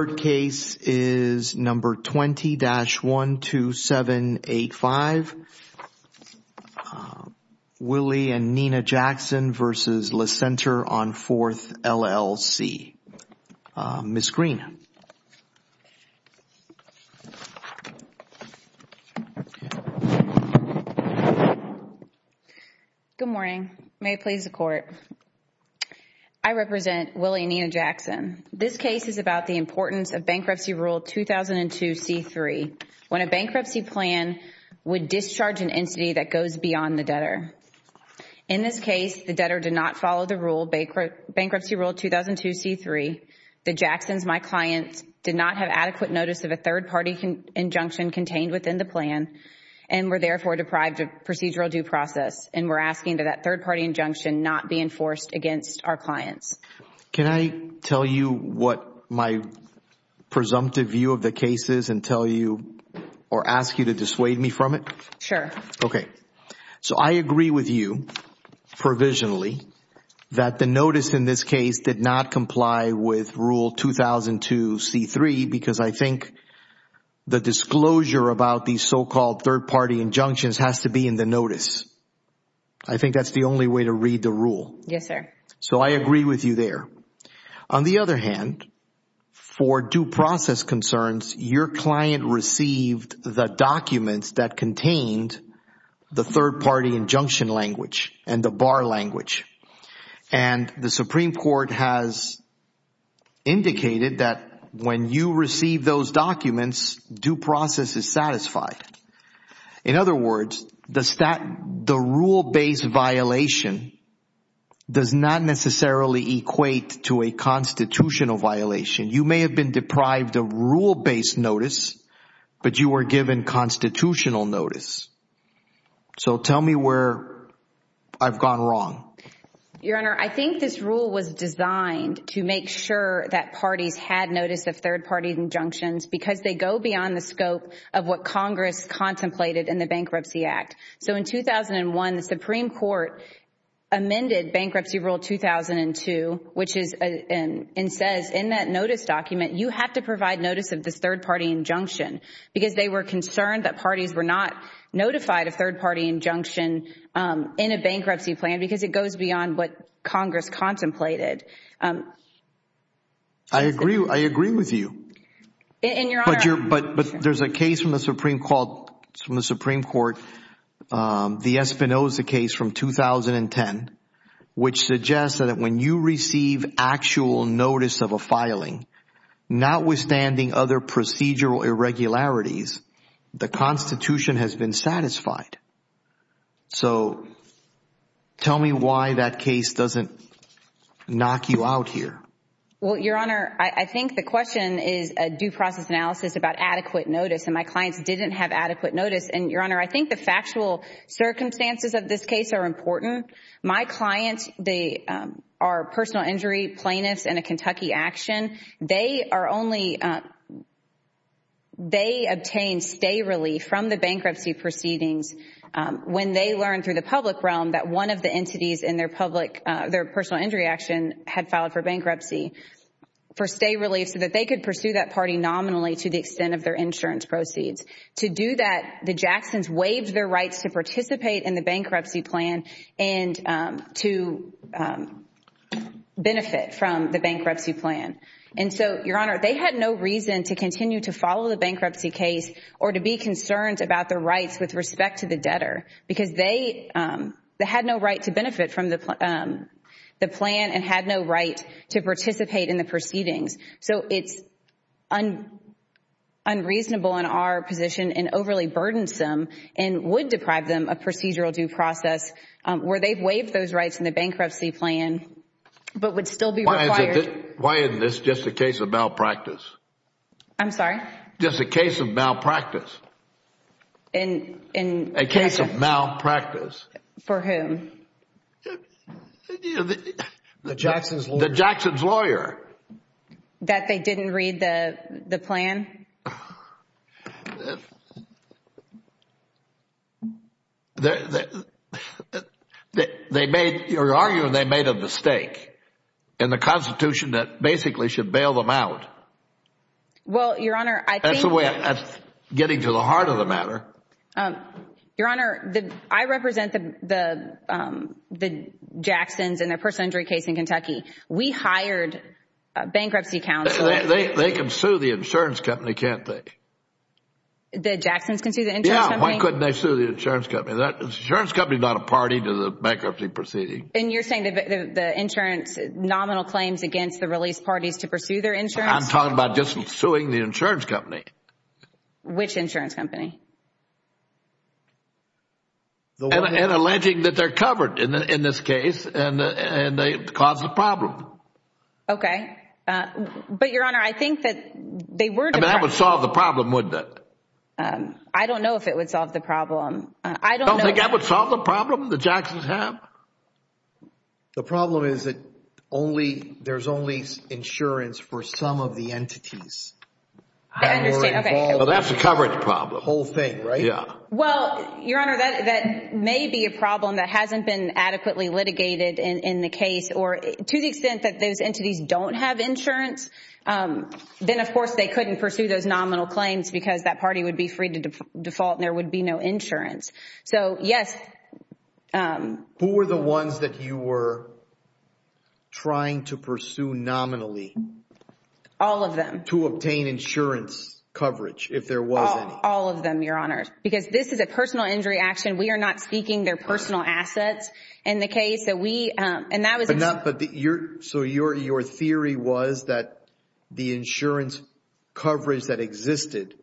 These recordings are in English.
Third case is number 20-12785, Willie and Nina Jackson v. Le Centre on Fourth, LLC. Ms. Greene. Good morning. May it please the Court. I represent Willie and Nina Jackson. This case is about the importance of Bankruptcy Rule 2002-C-3 when a bankruptcy plan would discharge an entity that goes beyond the debtor. In this case, the debtor did not follow the rule, Bankruptcy Rule 2002-C-3. The Jacksons, my client, did not have adequate notice of a third-party injunction contained within the plan and were therefore deprived of procedural due process, and we're asking that that third-party injunction not be enforced against our clients. Can I tell you what my presumptive view of the case is and tell you or ask you to dissuade me from it? Sure. Okay. So I agree with you provisionally that the notice in this case did not comply with Rule 2002-C-3 because I think the disclosure about these so-called third-party injunctions has to be in the notice. I think that's the only way to read the rule. Yes, sir. So I agree with you there. On the other hand, for due process concerns, your client received the documents that contained the third-party injunction language and the bar language, and the Supreme Court has indicated that when you receive those documents, due process is satisfied. In other words, the rule-based violation does not necessarily equate to a constitutional violation. You may have been deprived of rule-based notice, but you were given constitutional notice. So tell me where I've gone wrong. Your Honor, I think this rule was designed to make sure that parties had notice of third-party injunctions because they go beyond the scope of what Congress contemplated in the Bankruptcy Act. So in 2001, the Supreme Court amended Bankruptcy Rule 2002, which says in that notice document, you have to provide notice of this third-party injunction because they were concerned that parties were not notified of third-party injunction in a bankruptcy plan because it goes beyond what Congress contemplated. I agree with you. But there's a case from the Supreme Court, the Espinoza case from 2010, which suggests that when you receive actual notice of a filing, notwithstanding other procedural irregularities, the Constitution has been satisfied. So tell me why that case doesn't knock you out here. Well, Your Honor, I think the question is a due process analysis about adequate notice, and my clients didn't have adequate notice. And Your Honor, I think the factual circumstances of this case are important. My clients, they are personal injury plaintiffs in a Kentucky action. They obtained stay relief from the bankruptcy proceedings when they learned through the public realm that one of the entities in their personal injury action had filed for bankruptcy for stay relief so that they could pursue that party nominally to the extent of their insurance proceeds. To do that, the Jacksons waived their rights to participate in the bankruptcy plan and to benefit from the bankruptcy plan. And so, Your Honor, they had no reason to continue to follow the bankruptcy case or to be concerned about their rights with respect to the debtor because they had no right to benefit from the plan and had no right to participate in the proceedings. So it's unreasonable in our position and overly burdensome and would deprive them of procedural due process where they've waived those rights in the bankruptcy plan but would still be required. Why isn't this just a case of malpractice? I'm sorry? Just a case of malpractice. A case of malpractice. The Jacksons lawyer. The Jacksons lawyer. That they didn't read the plan? They made, you're arguing they made a mistake in the Constitution that basically should bail them out. Well, Your Honor, I think that's a way of getting to the heart of the matter. Your Honor, I represent the Jacksons in their personal injury case in Kentucky. We hired a bankruptcy counsel. They can sue the insurance company, can't they? The Jacksons can sue the insurance company? Yes. Why couldn't they sue the insurance company? The insurance company is not a party to the bankruptcy proceeding. And you're saying that the insurance nominal claims against the release parties to pursue their insurance? I'm talking about just suing the insurance company. Which insurance company? And alleging that they're covered in this case and they caused the problem. Okay. But, Your Honor, I think that they were- I mean, that would solve the problem, wouldn't it? I don't know if it would solve the problem. I don't know- You don't think that would solve the problem the Jacksons have? The problem is that only, there's only insurance for some of the entities that were involved- I understand. That's the whole thing, right? Yeah. Well, Your Honor, that may be a problem that hasn't been adequately litigated in the case. Or to the extent that those entities don't have insurance, then of course they couldn't pursue those nominal claims because that party would be free to default and there would be no insurance. So, yes- Who were the ones that you were trying to pursue nominally? All of them. To obtain insurance coverage, if there was any? All of them, Your Honor. Because this is a personal injury action. We are not seeking their personal assets in the case that we- And that was- But not- So, your theory was that the insurance coverage that existed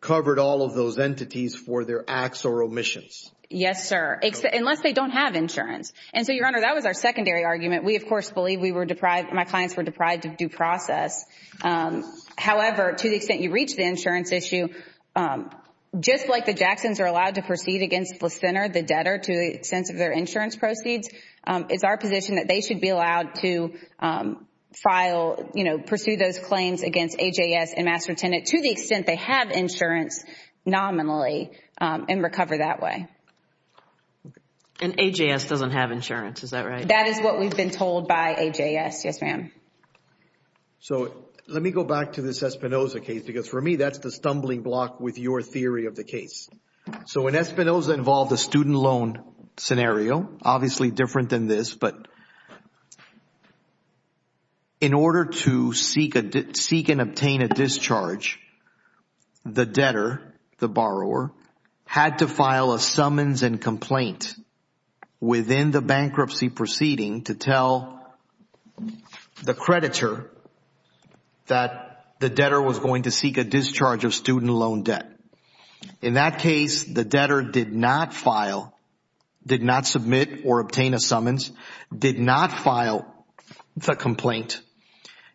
covered all of those entities for their acts or omissions? Yes, sir. Unless they don't have insurance. And so, Your Honor, that was our secondary argument. We, of course, believe we were deprived- my clients were deprived of due process. Yes. However, to the extent you reach the insurance issue, just like the Jacksons are allowed to proceed against the sinner, the debtor, to the extent of their insurance proceeds, it's our position that they should be allowed to file, you know, pursue those claims against AJS and Master Tenant to the extent they have insurance nominally and recover that way. And AJS doesn't have insurance, is that right? That is what we've been told by AJS, yes, ma'am. So, let me go back to this Espinoza case because, for me, that's the stumbling block with your theory of the case. So, when Espinoza involved a student loan scenario, obviously different than this, but in order to seek and obtain a discharge, the debtor, the borrower, had to file a summons and complaint within the bankruptcy proceeding to tell the creditor that the debtor was going to seek a discharge of student loan debt. In that case, the debtor did not file, did not submit or obtain a summons, did not file the complaint,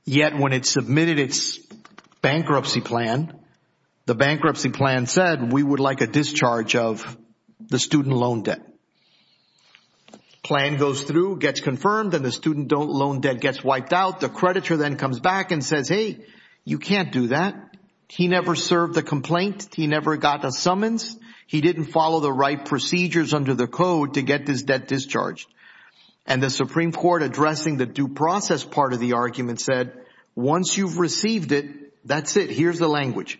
yet when it submitted its bankruptcy plan, the bankruptcy plan said, we would like a discharge of the student loan debt. Plan goes through, gets confirmed, and the student loan debt gets wiped out. The creditor then comes back and says, hey, you can't do that. He never served a complaint. He never got a summons. He didn't follow the right procedures under the code to get this debt discharged. And the Supreme Court, addressing the due process part of the argument, said, once you've received it, that's it. Here's the language.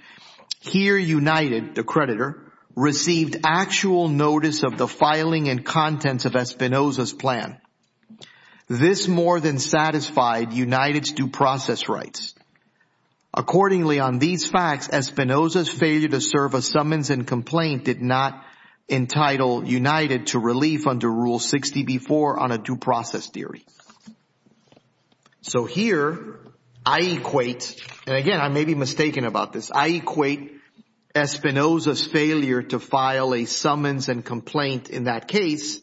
Here, United, the creditor, received actual notice of the filing and contents of Espinoza's plan. This more than satisfied United's due process rights. Accordingly, on these facts, Espinoza's failure to serve a summons and complaint did not entitle United to relief under Rule 60b-4 on a due process theory. So here, I equate, and again, I may be mistaken about this, I equate Espinoza's failure to file a summons and complaint in that case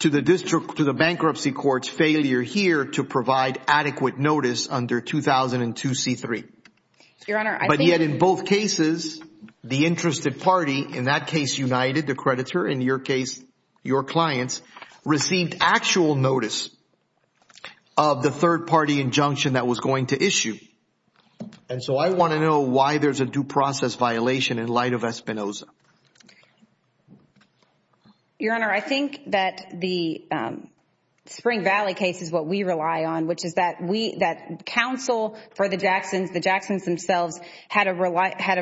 to the bankruptcy court's failure here to provide adequate notice under 2002c-3. But yet in both cases, the interested party, in that case United, the creditor, in your case, your clients, received actual notice of the third party injunction that was going to issue. And so I want to know why there's a due process violation in light of Espinoza. Your Honor, I think that the Spring Valley case is what we rely on, which is that counsel for the Jacksons, the Jacksons themselves, had a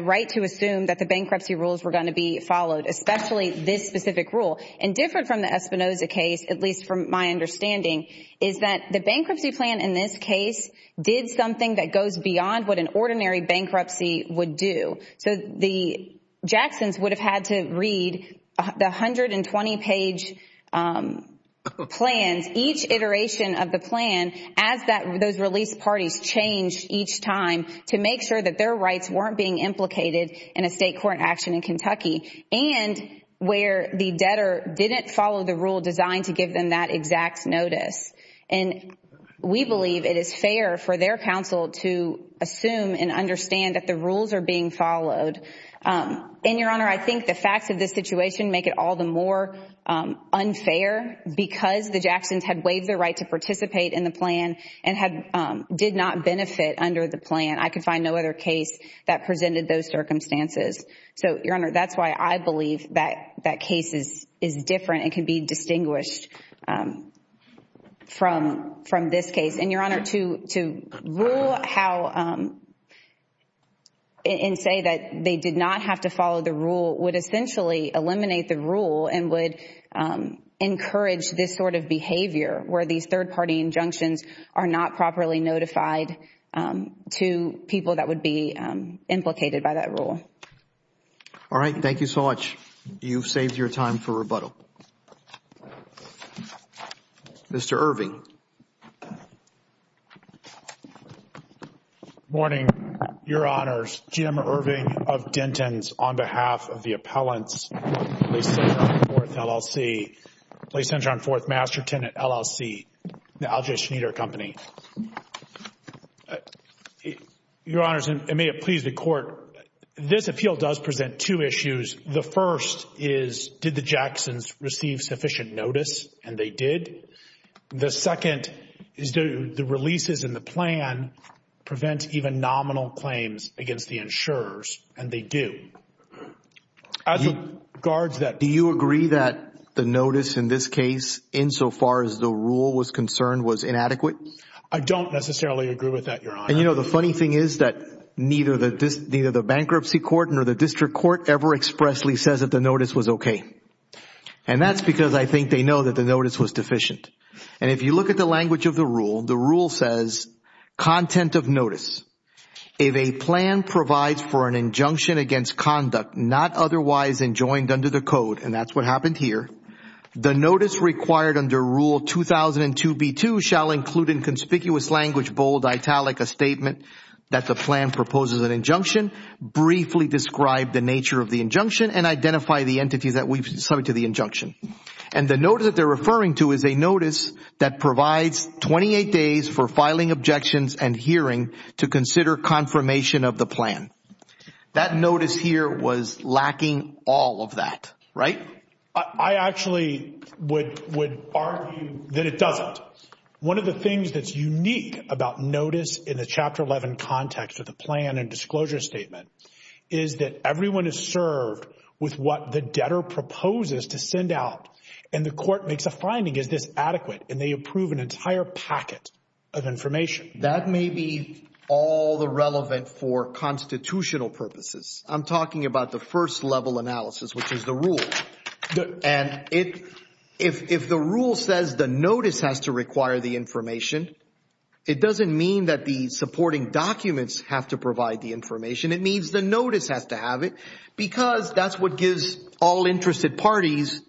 right to assume that the bankruptcy rules were going to be followed, especially this specific rule. And different from the Espinoza case, at least from my understanding, is that the bankruptcy plan in this case did something that goes beyond what an ordinary bankruptcy would do. So the Jacksons would have had to read the 120-page plans, each iteration of the plan as those release parties changed each time to make sure that their rights weren't being implicated in a state court action in Kentucky and where the debtor didn't follow the rule designed to give them that exact notice. And we believe it is fair for their counsel to assume and understand that the rules are being followed. And, Your Honor, I think the facts of this situation make it all the more unfair because the Jacksons had waived their right to participate in the plan and did not benefit under the plan. I could find no other case that presented those circumstances. So Your Honor, that's why I believe that case is different and can be distinguished from this case. And Your Honor, to rule how and say that they did not have to follow the rule would essentially eliminate the rule and would encourage this sort of behavior where these third-party injunctions are not properly notified to people that would be implicated by that rule. All right. Thank you so much. You've saved your time for rebuttal. Mr. Irving. Good morning, Your Honors. Jim Irving of Denton's on behalf of the appellants, Police Center on 4th LLC, Police Center on 4th LLC. Your Honors, and may it please the Court, this appeal does present two issues. The first is, did the Jacksons receive sufficient notice? And they did. The second is, do the releases in the plan prevent even nominal claims against the insurers? And they do. Do you agree that the notice in this case, insofar as the rule was concerned, was inadequate? I don't necessarily agree with that, Your Honor. And you know, the funny thing is that neither the bankruptcy court nor the district court ever expressly says that the notice was okay. And that's because I think they know that the notice was deficient. And if you look at the language of the rule, the rule says, content of notice, if a plan provides for an injunction against conduct not otherwise enjoined under the code, and language bold, italic, a statement that the plan proposes an injunction, briefly describe the nature of the injunction and identify the entities that we've submitted to the injunction. And the notice that they're referring to is a notice that provides 28 days for filing objections and hearing to consider confirmation of the plan. That notice here was lacking all of that, right? I actually would argue that it doesn't. One of the things that's unique about notice in the Chapter 11 context of the plan and disclosure statement is that everyone is served with what the debtor proposes to send out. And the court makes a finding, is this adequate? And they approve an entire packet of information. That may be all the relevant for constitutional purposes. I'm talking about the first level analysis, which is the rule. And if the rule says the notice has to require the information, it doesn't mean that the supporting documents have to provide the information. It means the notice has to have it because that's what gives all interested parties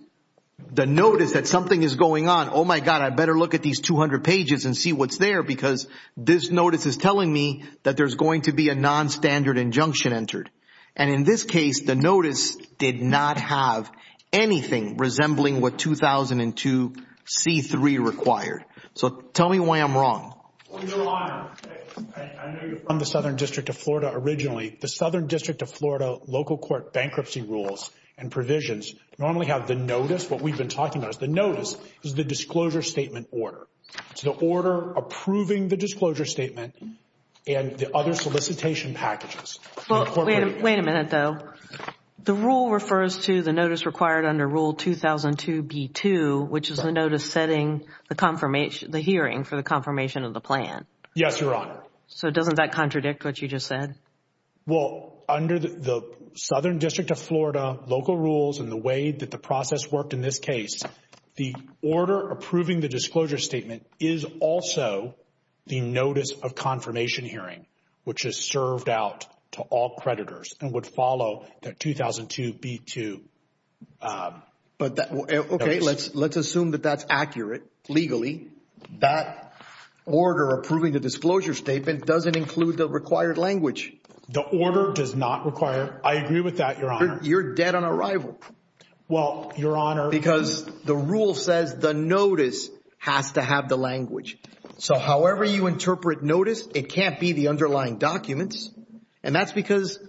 the notice that something is going on. Oh my God, I better look at these 200 pages and see what's there because this notice is telling me that there's going to be a nonstandard injunction entered. And in this case, the notice did not have anything resembling what 2002 C-3 required. So tell me why I'm wrong. On your line. I know you're from the Southern District of Florida originally. The Southern District of Florida local court bankruptcy rules and provisions normally have the notice. What we've been talking about is the notice is the disclosure statement order. It's the order approving the disclosure statement and the other solicitation packages. Well, wait a minute though. The rule refers to the notice required under Rule 2002 B-2, which is the notice setting the confirmation, the hearing for the confirmation of the plan. Yes, Your Honor. So doesn't that contradict what you just said? Well, under the Southern District of Florida local rules and the way that the process worked in this case, the order approving the disclosure statement is also the notice of confirmation hearing, which is served out to all creditors and would follow that 2002 B-2. But that, okay, let's assume that that's accurate legally. That order approving the disclosure statement doesn't include the required language. The order does not require, I agree with that, Your Honor. You're dead on arrival. Well, Your Honor. Because the rule says the notice has to have the language. So however you interpret notice, it can't be the underlying documents. And that's because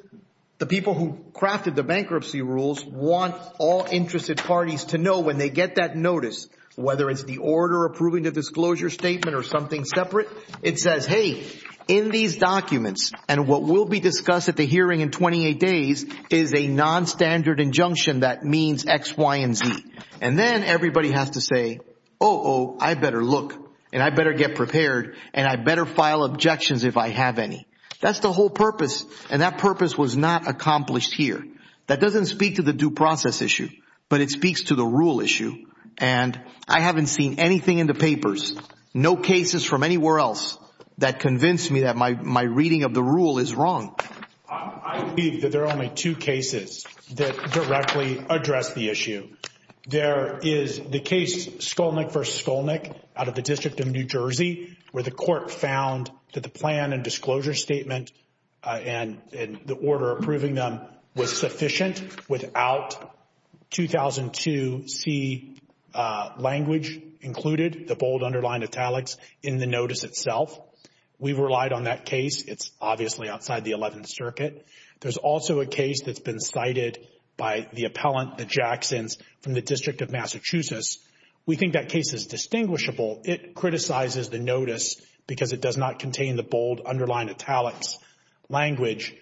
the people who crafted the bankruptcy rules want all interested parties to know when they get that notice, whether it's the order approving the disclosure statement or something separate, it says, hey, in these documents and what will be discussed at the hearing in 28 days is a nonstandard injunction that means X, Y, and Z. And then everybody has to say, oh, I better look and I better get prepared and I better file objections if I have any. That's the whole purpose. And that purpose was not accomplished here. That doesn't speak to the due process issue, but it speaks to the rule issue. And I haven't seen anything in the papers, no cases from anywhere else that convinced me that my reading of the rule is wrong. I believe that there are only two cases that directly address the issue. There is the case Skolnick v. Skolnick out of the District of New Jersey where the court found that the plan and disclosure statement and the order approving them was sufficient without 2002c language included, the bold underlined italics, in the notice itself. We relied on that case. It's obviously outside the Eleventh Circuit. There's also a case that's been cited by the appellant, the Jacksons, from the District of Massachusetts. We think that case is distinguishable. It criticizes the notice because it does not contain the bold underlined italics language.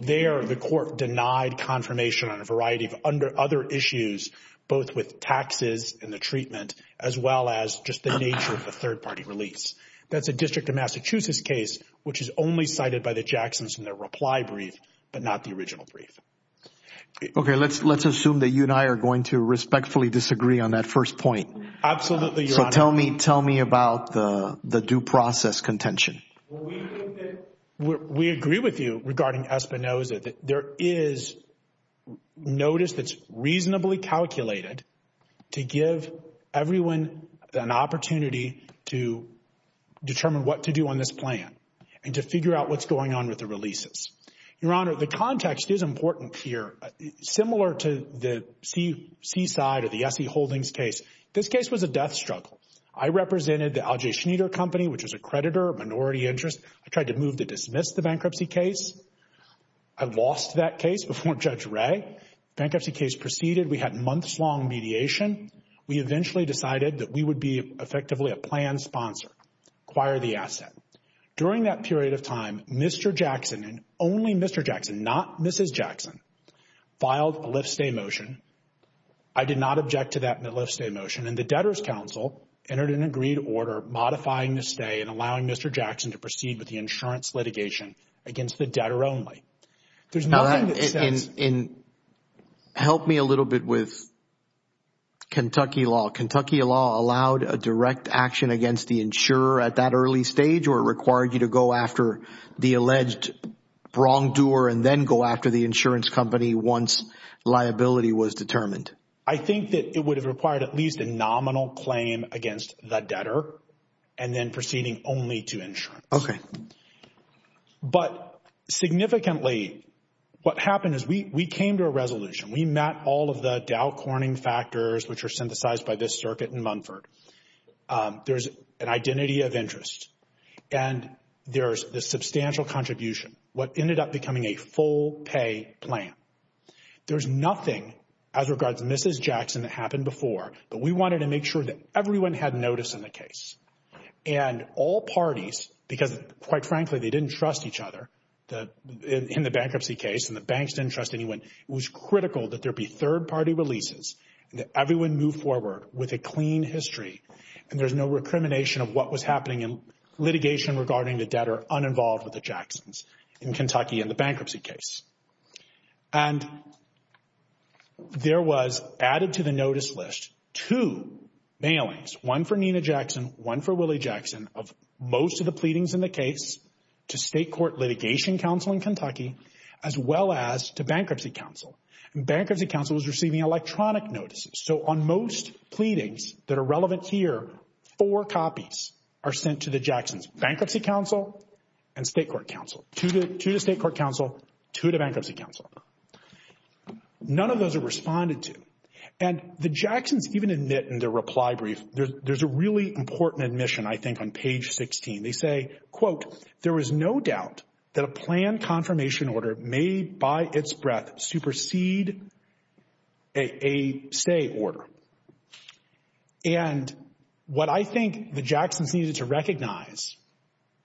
There the court denied confirmation on a variety of other issues, both with taxes and the treatment as well as just the nature of the third party release. That's a District of Massachusetts case which is only cited by the Jacksons in their reply brief but not the original brief. Okay, let's assume that you and I are going to respectfully disagree on that first point. Absolutely, Your Honor. So tell me about the due process contention. We agree with you regarding Espinoza. There is notice that's reasonably calculated to give everyone an opportunity to determine what to do on this plan and to figure out what's going on with the releases. Your Honor, the context is important here. Similar to the Seaside or the S.E. Holdings case, this case was a death struggle. I represented the Al J. Schneider Company, which was a creditor, minority interest. I tried to move to dismiss the bankruptcy case. I lost that case before Judge Wray. Bankruptcy case proceeded. We had months-long mediation. We eventually decided that we would be effectively a plan sponsor, acquire the asset. During that period of time, Mr. Jackson and only Mr. Jackson, not Mrs. Jackson, filed a lift-stay motion. I did not object to that lift-stay motion and the Debtor's Council entered an agreed order modifying the stay and allowing Mr. Jackson to proceed with the insurance litigation against the debtor only. There's nothing that says... Help me a little bit with Kentucky law. Kentucky law allowed a direct action against the insurer at that early stage or required you to go after the alleged wrongdoer and then go after the insurance company once liability was determined? I think that it would have required at least a nominal claim against the debtor and then proceeding only to insurance. Okay. But significantly, what happened is we came to a resolution. We met all of the Dow Corning factors, which are synthesized by this circuit in Munford. There's an identity of interest and there's this substantial contribution, what ended up becoming a full pay plan. There's nothing as regards to Mrs. Jackson that happened before, but we wanted to make sure that everyone had notice in the case. And all parties, because quite frankly, they didn't trust each other in the bankruptcy case and the banks didn't trust anyone, it was critical that there be third-party releases and that everyone move forward with a clean history and there's no recrimination of what was happening in litigation regarding the debtor uninvolved with the Jacksons in Kentucky in the bankruptcy case. And there was added to the notice list two mailings, one for Nina Jackson, one for Willie Jackson of most of the pleadings in the case to State Court Litigation Council in Kentucky as well as to Bankruptcy Council. Bankruptcy Council was receiving electronic notices. So on most pleadings that are relevant here, four copies are sent to the Jacksons, Bankruptcy Council and State Court Council, two to State Court Council, two to Bankruptcy Council. None of those are responded to. And the Jacksons even admit in their reply brief, there's a really important admission I think on page 16, they say, quote, there was no doubt that a plan confirmation order made by its breath supersede a say order. And what I think the Jacksons needed to recognize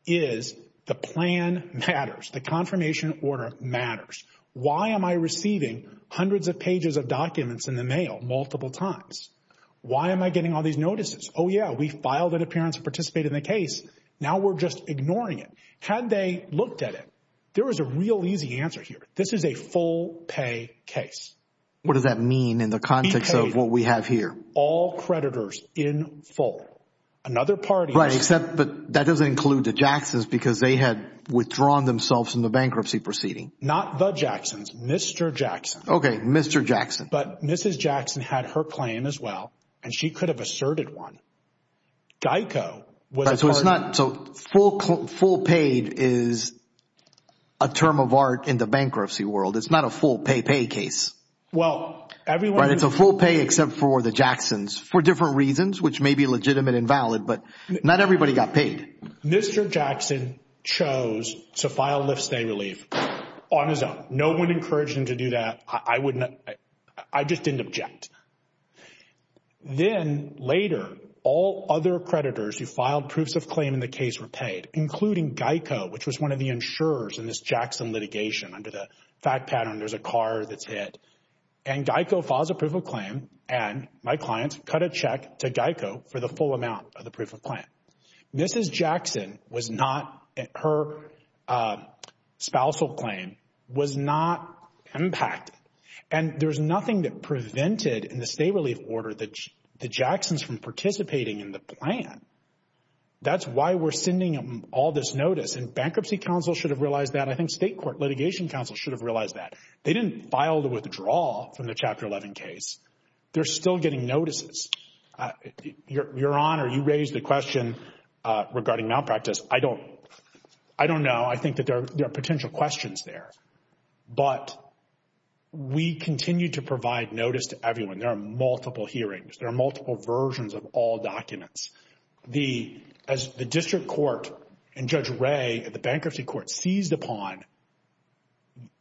is the plan matters. The confirmation order matters. Why am I receiving hundreds of pages of documents in the mail multiple times? Why am I getting all these notices? Oh yeah, we filed an appearance to participate in the case. Now we're just ignoring it. Had they looked at it, there was a real easy answer here. This is a full pay case. What does that mean in the context of what we have here? All creditors in full. Another party... Right, except that doesn't include the Jacksons because they had withdrawn themselves from the bankruptcy proceeding. Not the Jacksons, Mr. Jackson. Okay, Mr. Jackson. But Mrs. Jackson had her claim as well and she could have asserted one. GEICO... So it's not... So full paid is a term of art in the bankruptcy world. It's not a full pay, pay case. Well, everyone... Right, it's a full pay except for the Jacksons for different reasons, which may be legitimate and valid, but not everybody got paid. Mr. Jackson chose to file lift-stay relief on his own. No one encouraged him to do that. I wouldn't... I just didn't object. Then later, all other creditors who filed proofs of claim in the case were paid, including GEICO, which was one of the insurers in this Jackson litigation under the fact pattern there's a car that's hit. And GEICO files a proof of claim and my clients cut a check to GEICO for the full amount of the proof of claim. Mrs. Jackson was not... Her spousal claim was not impacted. And there's nothing that prevented in the stay relief order the Jacksons from participating in the plan. That's why we're sending them all this notice. And bankruptcy counsel should have realized that. I think state court litigation counsel should have realized that. They didn't file the withdrawal from the Chapter 11 case. They're still getting notices. Your Honor, you raised the question regarding malpractice. I don't know. I think that there are potential questions there, but we continue to provide notice to everyone. There are multiple hearings. There are multiple versions of all documents. As the district court and Judge Wray at the bankruptcy court seized upon,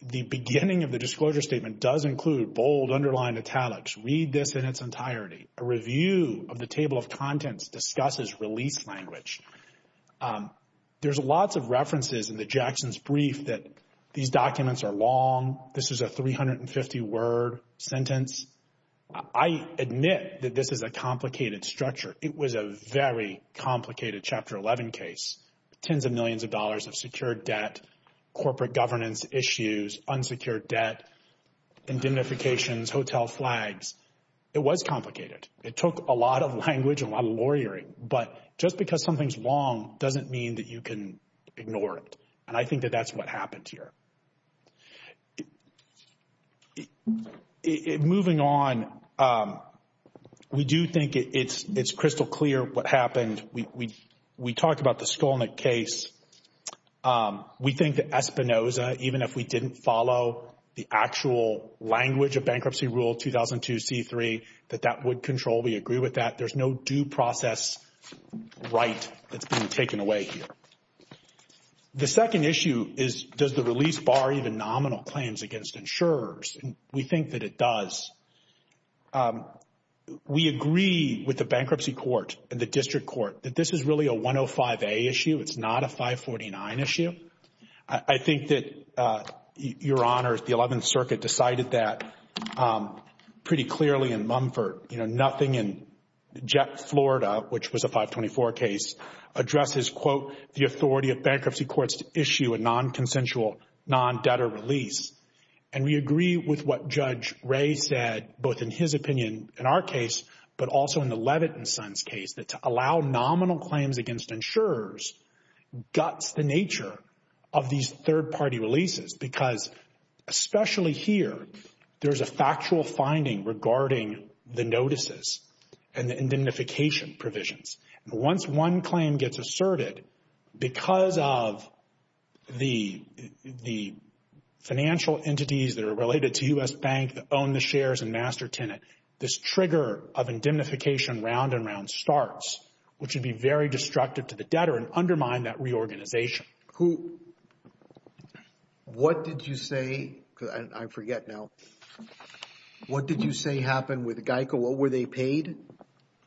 the beginning of the disclosure statement does include bold, underlined italics, read this in its entirety. A review of the table of contents discusses release language. There's lots of references in the Jacksons brief that these documents are long. This is a 350-word sentence. I admit that this is a complicated structure. It was a very complicated Chapter 11 case, tens of millions of dollars of secured debt, corporate governance issues, unsecured debt, indemnifications, hotel flags. It was complicated. It took a lot of language and a lot of lawyering. But just because something's long doesn't mean that you can ignore it. And I think that that's what happened here. Moving on, we do think it's crystal clear what happened. We talked about the Skolnick case. We think that Espinoza, even if we didn't follow the actual language of Bankruptcy Rule 2002C3, that that would control. We agree with that. There's no due process right that's being taken away here. The second issue is, does the release bar even nominal claims against insurers? We think that it does. We agree with the Bankruptcy Court and the District Court that this is really a 105A issue. It's not a 549 issue. I think that, Your Honor, the Eleventh Circuit decided that pretty clearly in Mumford. You know, nothing in Florida, which was a 524 case, addresses, quote, the authority of bankruptcy courts to issue a non-consensual, non-debtor release. And we agree with what Judge Ray said, both in his opinion in our case, but also in the Levitt & Sons case, that to allow nominal claims against insurers guts the nature of these third-party releases. Because, especially here, there's a factual finding regarding the notices and the indemnification provisions. And once one claim gets asserted, because of the financial entities that are related to U.S. Bank that own the shares and master tenant, this trigger of indemnification round and round starts, which would be very destructive to the debtor and undermine that reorganization. Who, what did you say, because I forget now, what did you say happened with Geico? What were they paid?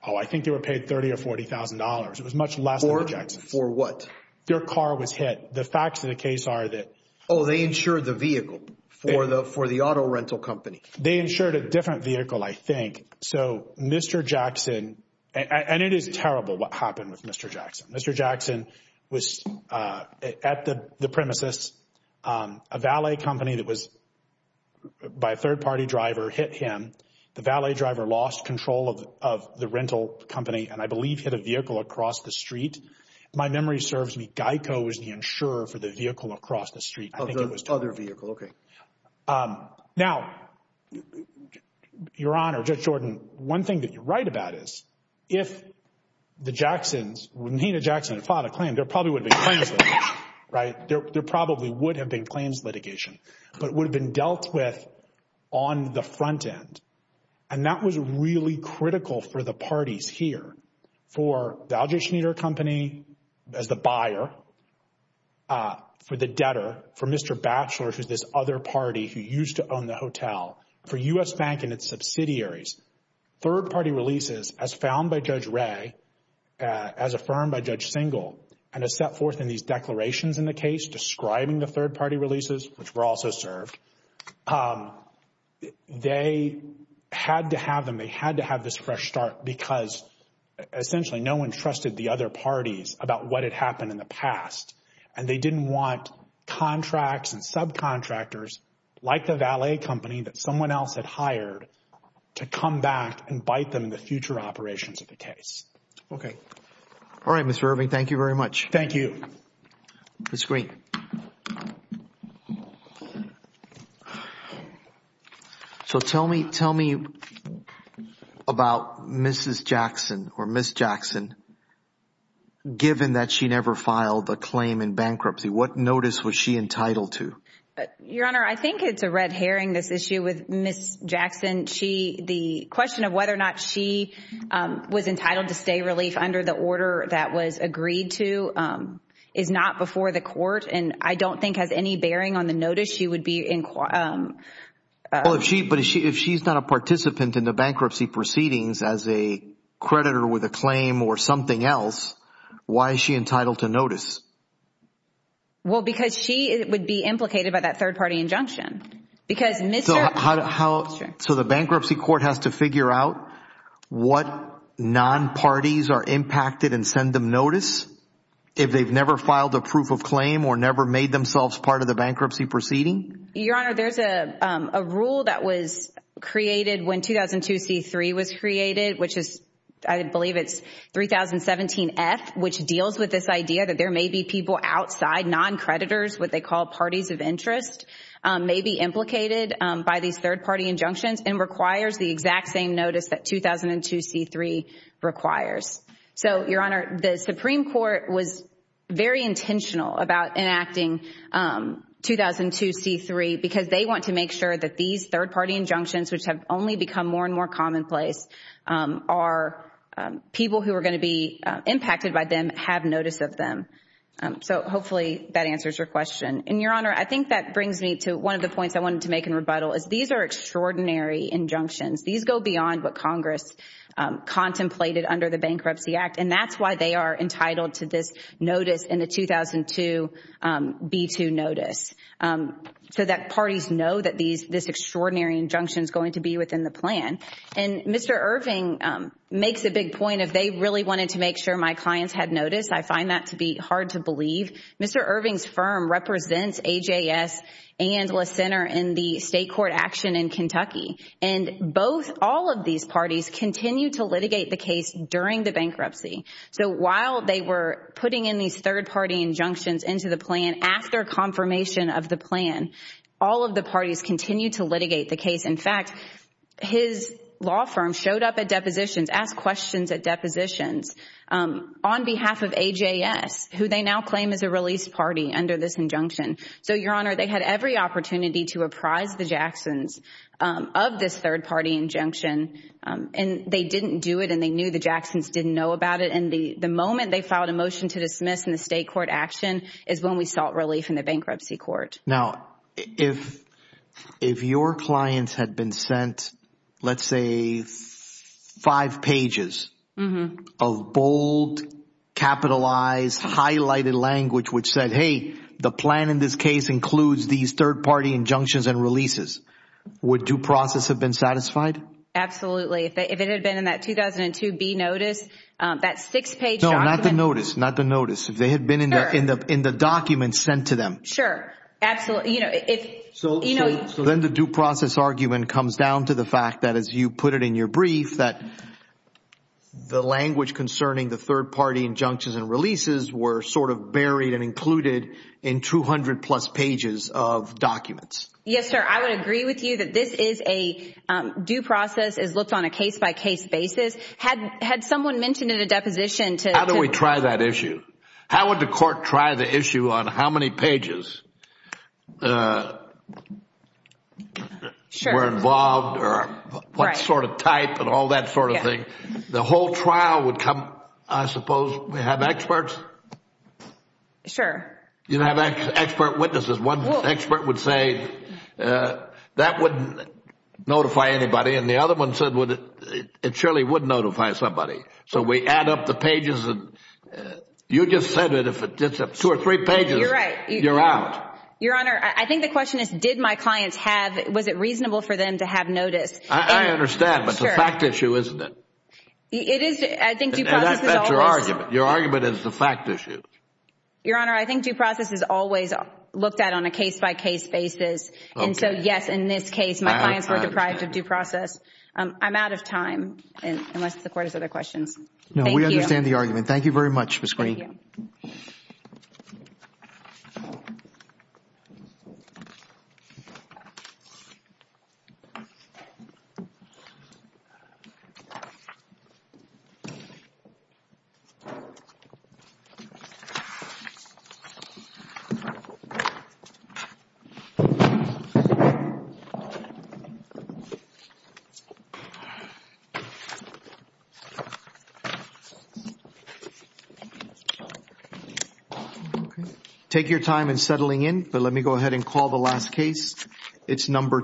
Oh, I think they were paid $30,000 or $40,000. It was much less than the Jacksons. For what? Their car was hit. The facts of the case are that. Oh, they insured the vehicle for the auto rental company. They insured a different vehicle, I think. So Mr. Jackson, and it is terrible what happened with Mr. Jackson. Mr. Jackson was at the premises. A valet company that was, by a third-party driver, hit him. The valet driver lost control of the rental company, and I believe hit a vehicle across the street. My memory serves me, Geico was the insurer for the vehicle across the street. Of the other vehicle, okay. Now, Your Honor, Judge Jordan, one thing that you're right about is, if the Jacksons, when Tina Jackson had filed a claim, there probably would have been claims litigation, right? There probably would have been claims litigation, but it would have been dealt with on the front end. And that was really critical for the parties here. For the Alger Schneider Company as the buyer, for the debtor, for Mr. Batchelor, who's this other party who used to own the hotel, for U.S. Bank and its subsidiaries, third-party releases as found by Judge Wray, as affirmed by Judge Singel, and as set forth in these declarations in the case describing the third-party releases, which were also served, they had to have them. They had to have this fresh start because, essentially, no one trusted the other parties about what had happened in the past. And they didn't want contracts and subcontractors like the valet company that someone else had in the future operations of the case. Okay. All right, Mr. Irving. Thank you very much. Thank you. Ms. Green. So, tell me about Mrs. Jackson, or Ms. Jackson, given that she never filed a claim in bankruptcy. What notice was she entitled to? Your Honor, I think it's a red herring, this issue with Ms. Jackson. The question of whether or not she was entitled to stay relief under the order that was agreed to is not before the court, and I don't think has any bearing on the notice. She would be in – Well, if she's not a participant in the bankruptcy proceedings as a creditor with a claim or something else, why is she entitled to notice? Well, because she would be implicated by that third-party injunction. So, the bankruptcy court has to figure out what non-parties are impacted and send them notice if they've never filed a proof of claim or never made themselves part of the bankruptcy proceeding? Your Honor, there's a rule that was created when 2002C3 was created, which is – I believe it's 3017F, which deals with this idea that there may be people outside, non-creditors, what they call parties of interest, may be implicated by these third-party injunctions and requires the exact same notice that 2002C3 requires. So Your Honor, the Supreme Court was very intentional about enacting 2002C3 because they want to make sure that these third-party injunctions, which have only become more and more commonplace, are people who are going to be impacted by them have notice of them. So hopefully that answers your question. And Your Honor, I think that brings me to one of the points I wanted to make in rebuttal is these are extraordinary injunctions. These go beyond what Congress contemplated under the Bankruptcy Act, and that's why they are entitled to this notice in the 2002B2 notice, so that parties know that this extraordinary injunction is going to be within the plan. And Mr. Irving makes a big point of they really wanted to make sure my clients had notice. I find that to be hard to believe. Mr. Irving's firm represents AJS and La Center in the state court action in Kentucky. And both, all of these parties continue to litigate the case during the bankruptcy. So while they were putting in these third-party injunctions into the plan after confirmation of the plan, all of the parties continue to litigate the case. In fact, his law firm showed up at depositions, asked questions at depositions on behalf of AJS, who they now claim is a released party under this injunction. So Your Honor, they had every opportunity to apprise the Jacksons of this third-party injunction, and they didn't do it, and they knew the Jacksons didn't know about it. And the moment they filed a motion to dismiss in the state court action is when we sought relief in the bankruptcy court. Now, if your clients had been sent, let's say, five pages of bold, capitalized, highlighted language which said, hey, the plan in this case includes these third-party injunctions and releases, would due process have been satisfied? Absolutely. If it had been in that 2002B notice, that six-page document. No, not the notice. Not the notice. If they had been in the document sent to them. Sure. Absolutely. You know, if... So then the due process argument comes down to the fact that, as you put it in your brief, that the language concerning the third-party injunctions and releases were sort of buried and included in 200-plus pages of documents. Yes, sir. I would agree with you that this is a due process as looked on a case-by-case basis. Had someone mentioned in a deposition to... How do we try that issue? How would the court try the issue on how many pages were involved or what sort of type and all that sort of thing? The whole trial would come, I suppose, we have experts? Sure. You have expert witnesses. One expert would say that wouldn't notify anybody and the other one said it surely would notify somebody. So we add up the pages and you just said that if it's two or three pages, you're out. Your Honor, I think the question is, did my clients have, was it reasonable for them to have notice? I understand, but it's a fact issue, isn't it? It is. I think due process is always... That's your argument. Your argument is the fact issue. Your Honor, I think due process is always looked at on a case-by-case basis and so yes, in this case, my clients were deprived of due process. I'm out of time unless the court has other questions. No, we understand the argument. Thank you very much, Ms. Green. Thank you. Thank you. Take your time in settling in, but let me go ahead and call the last case. It's number...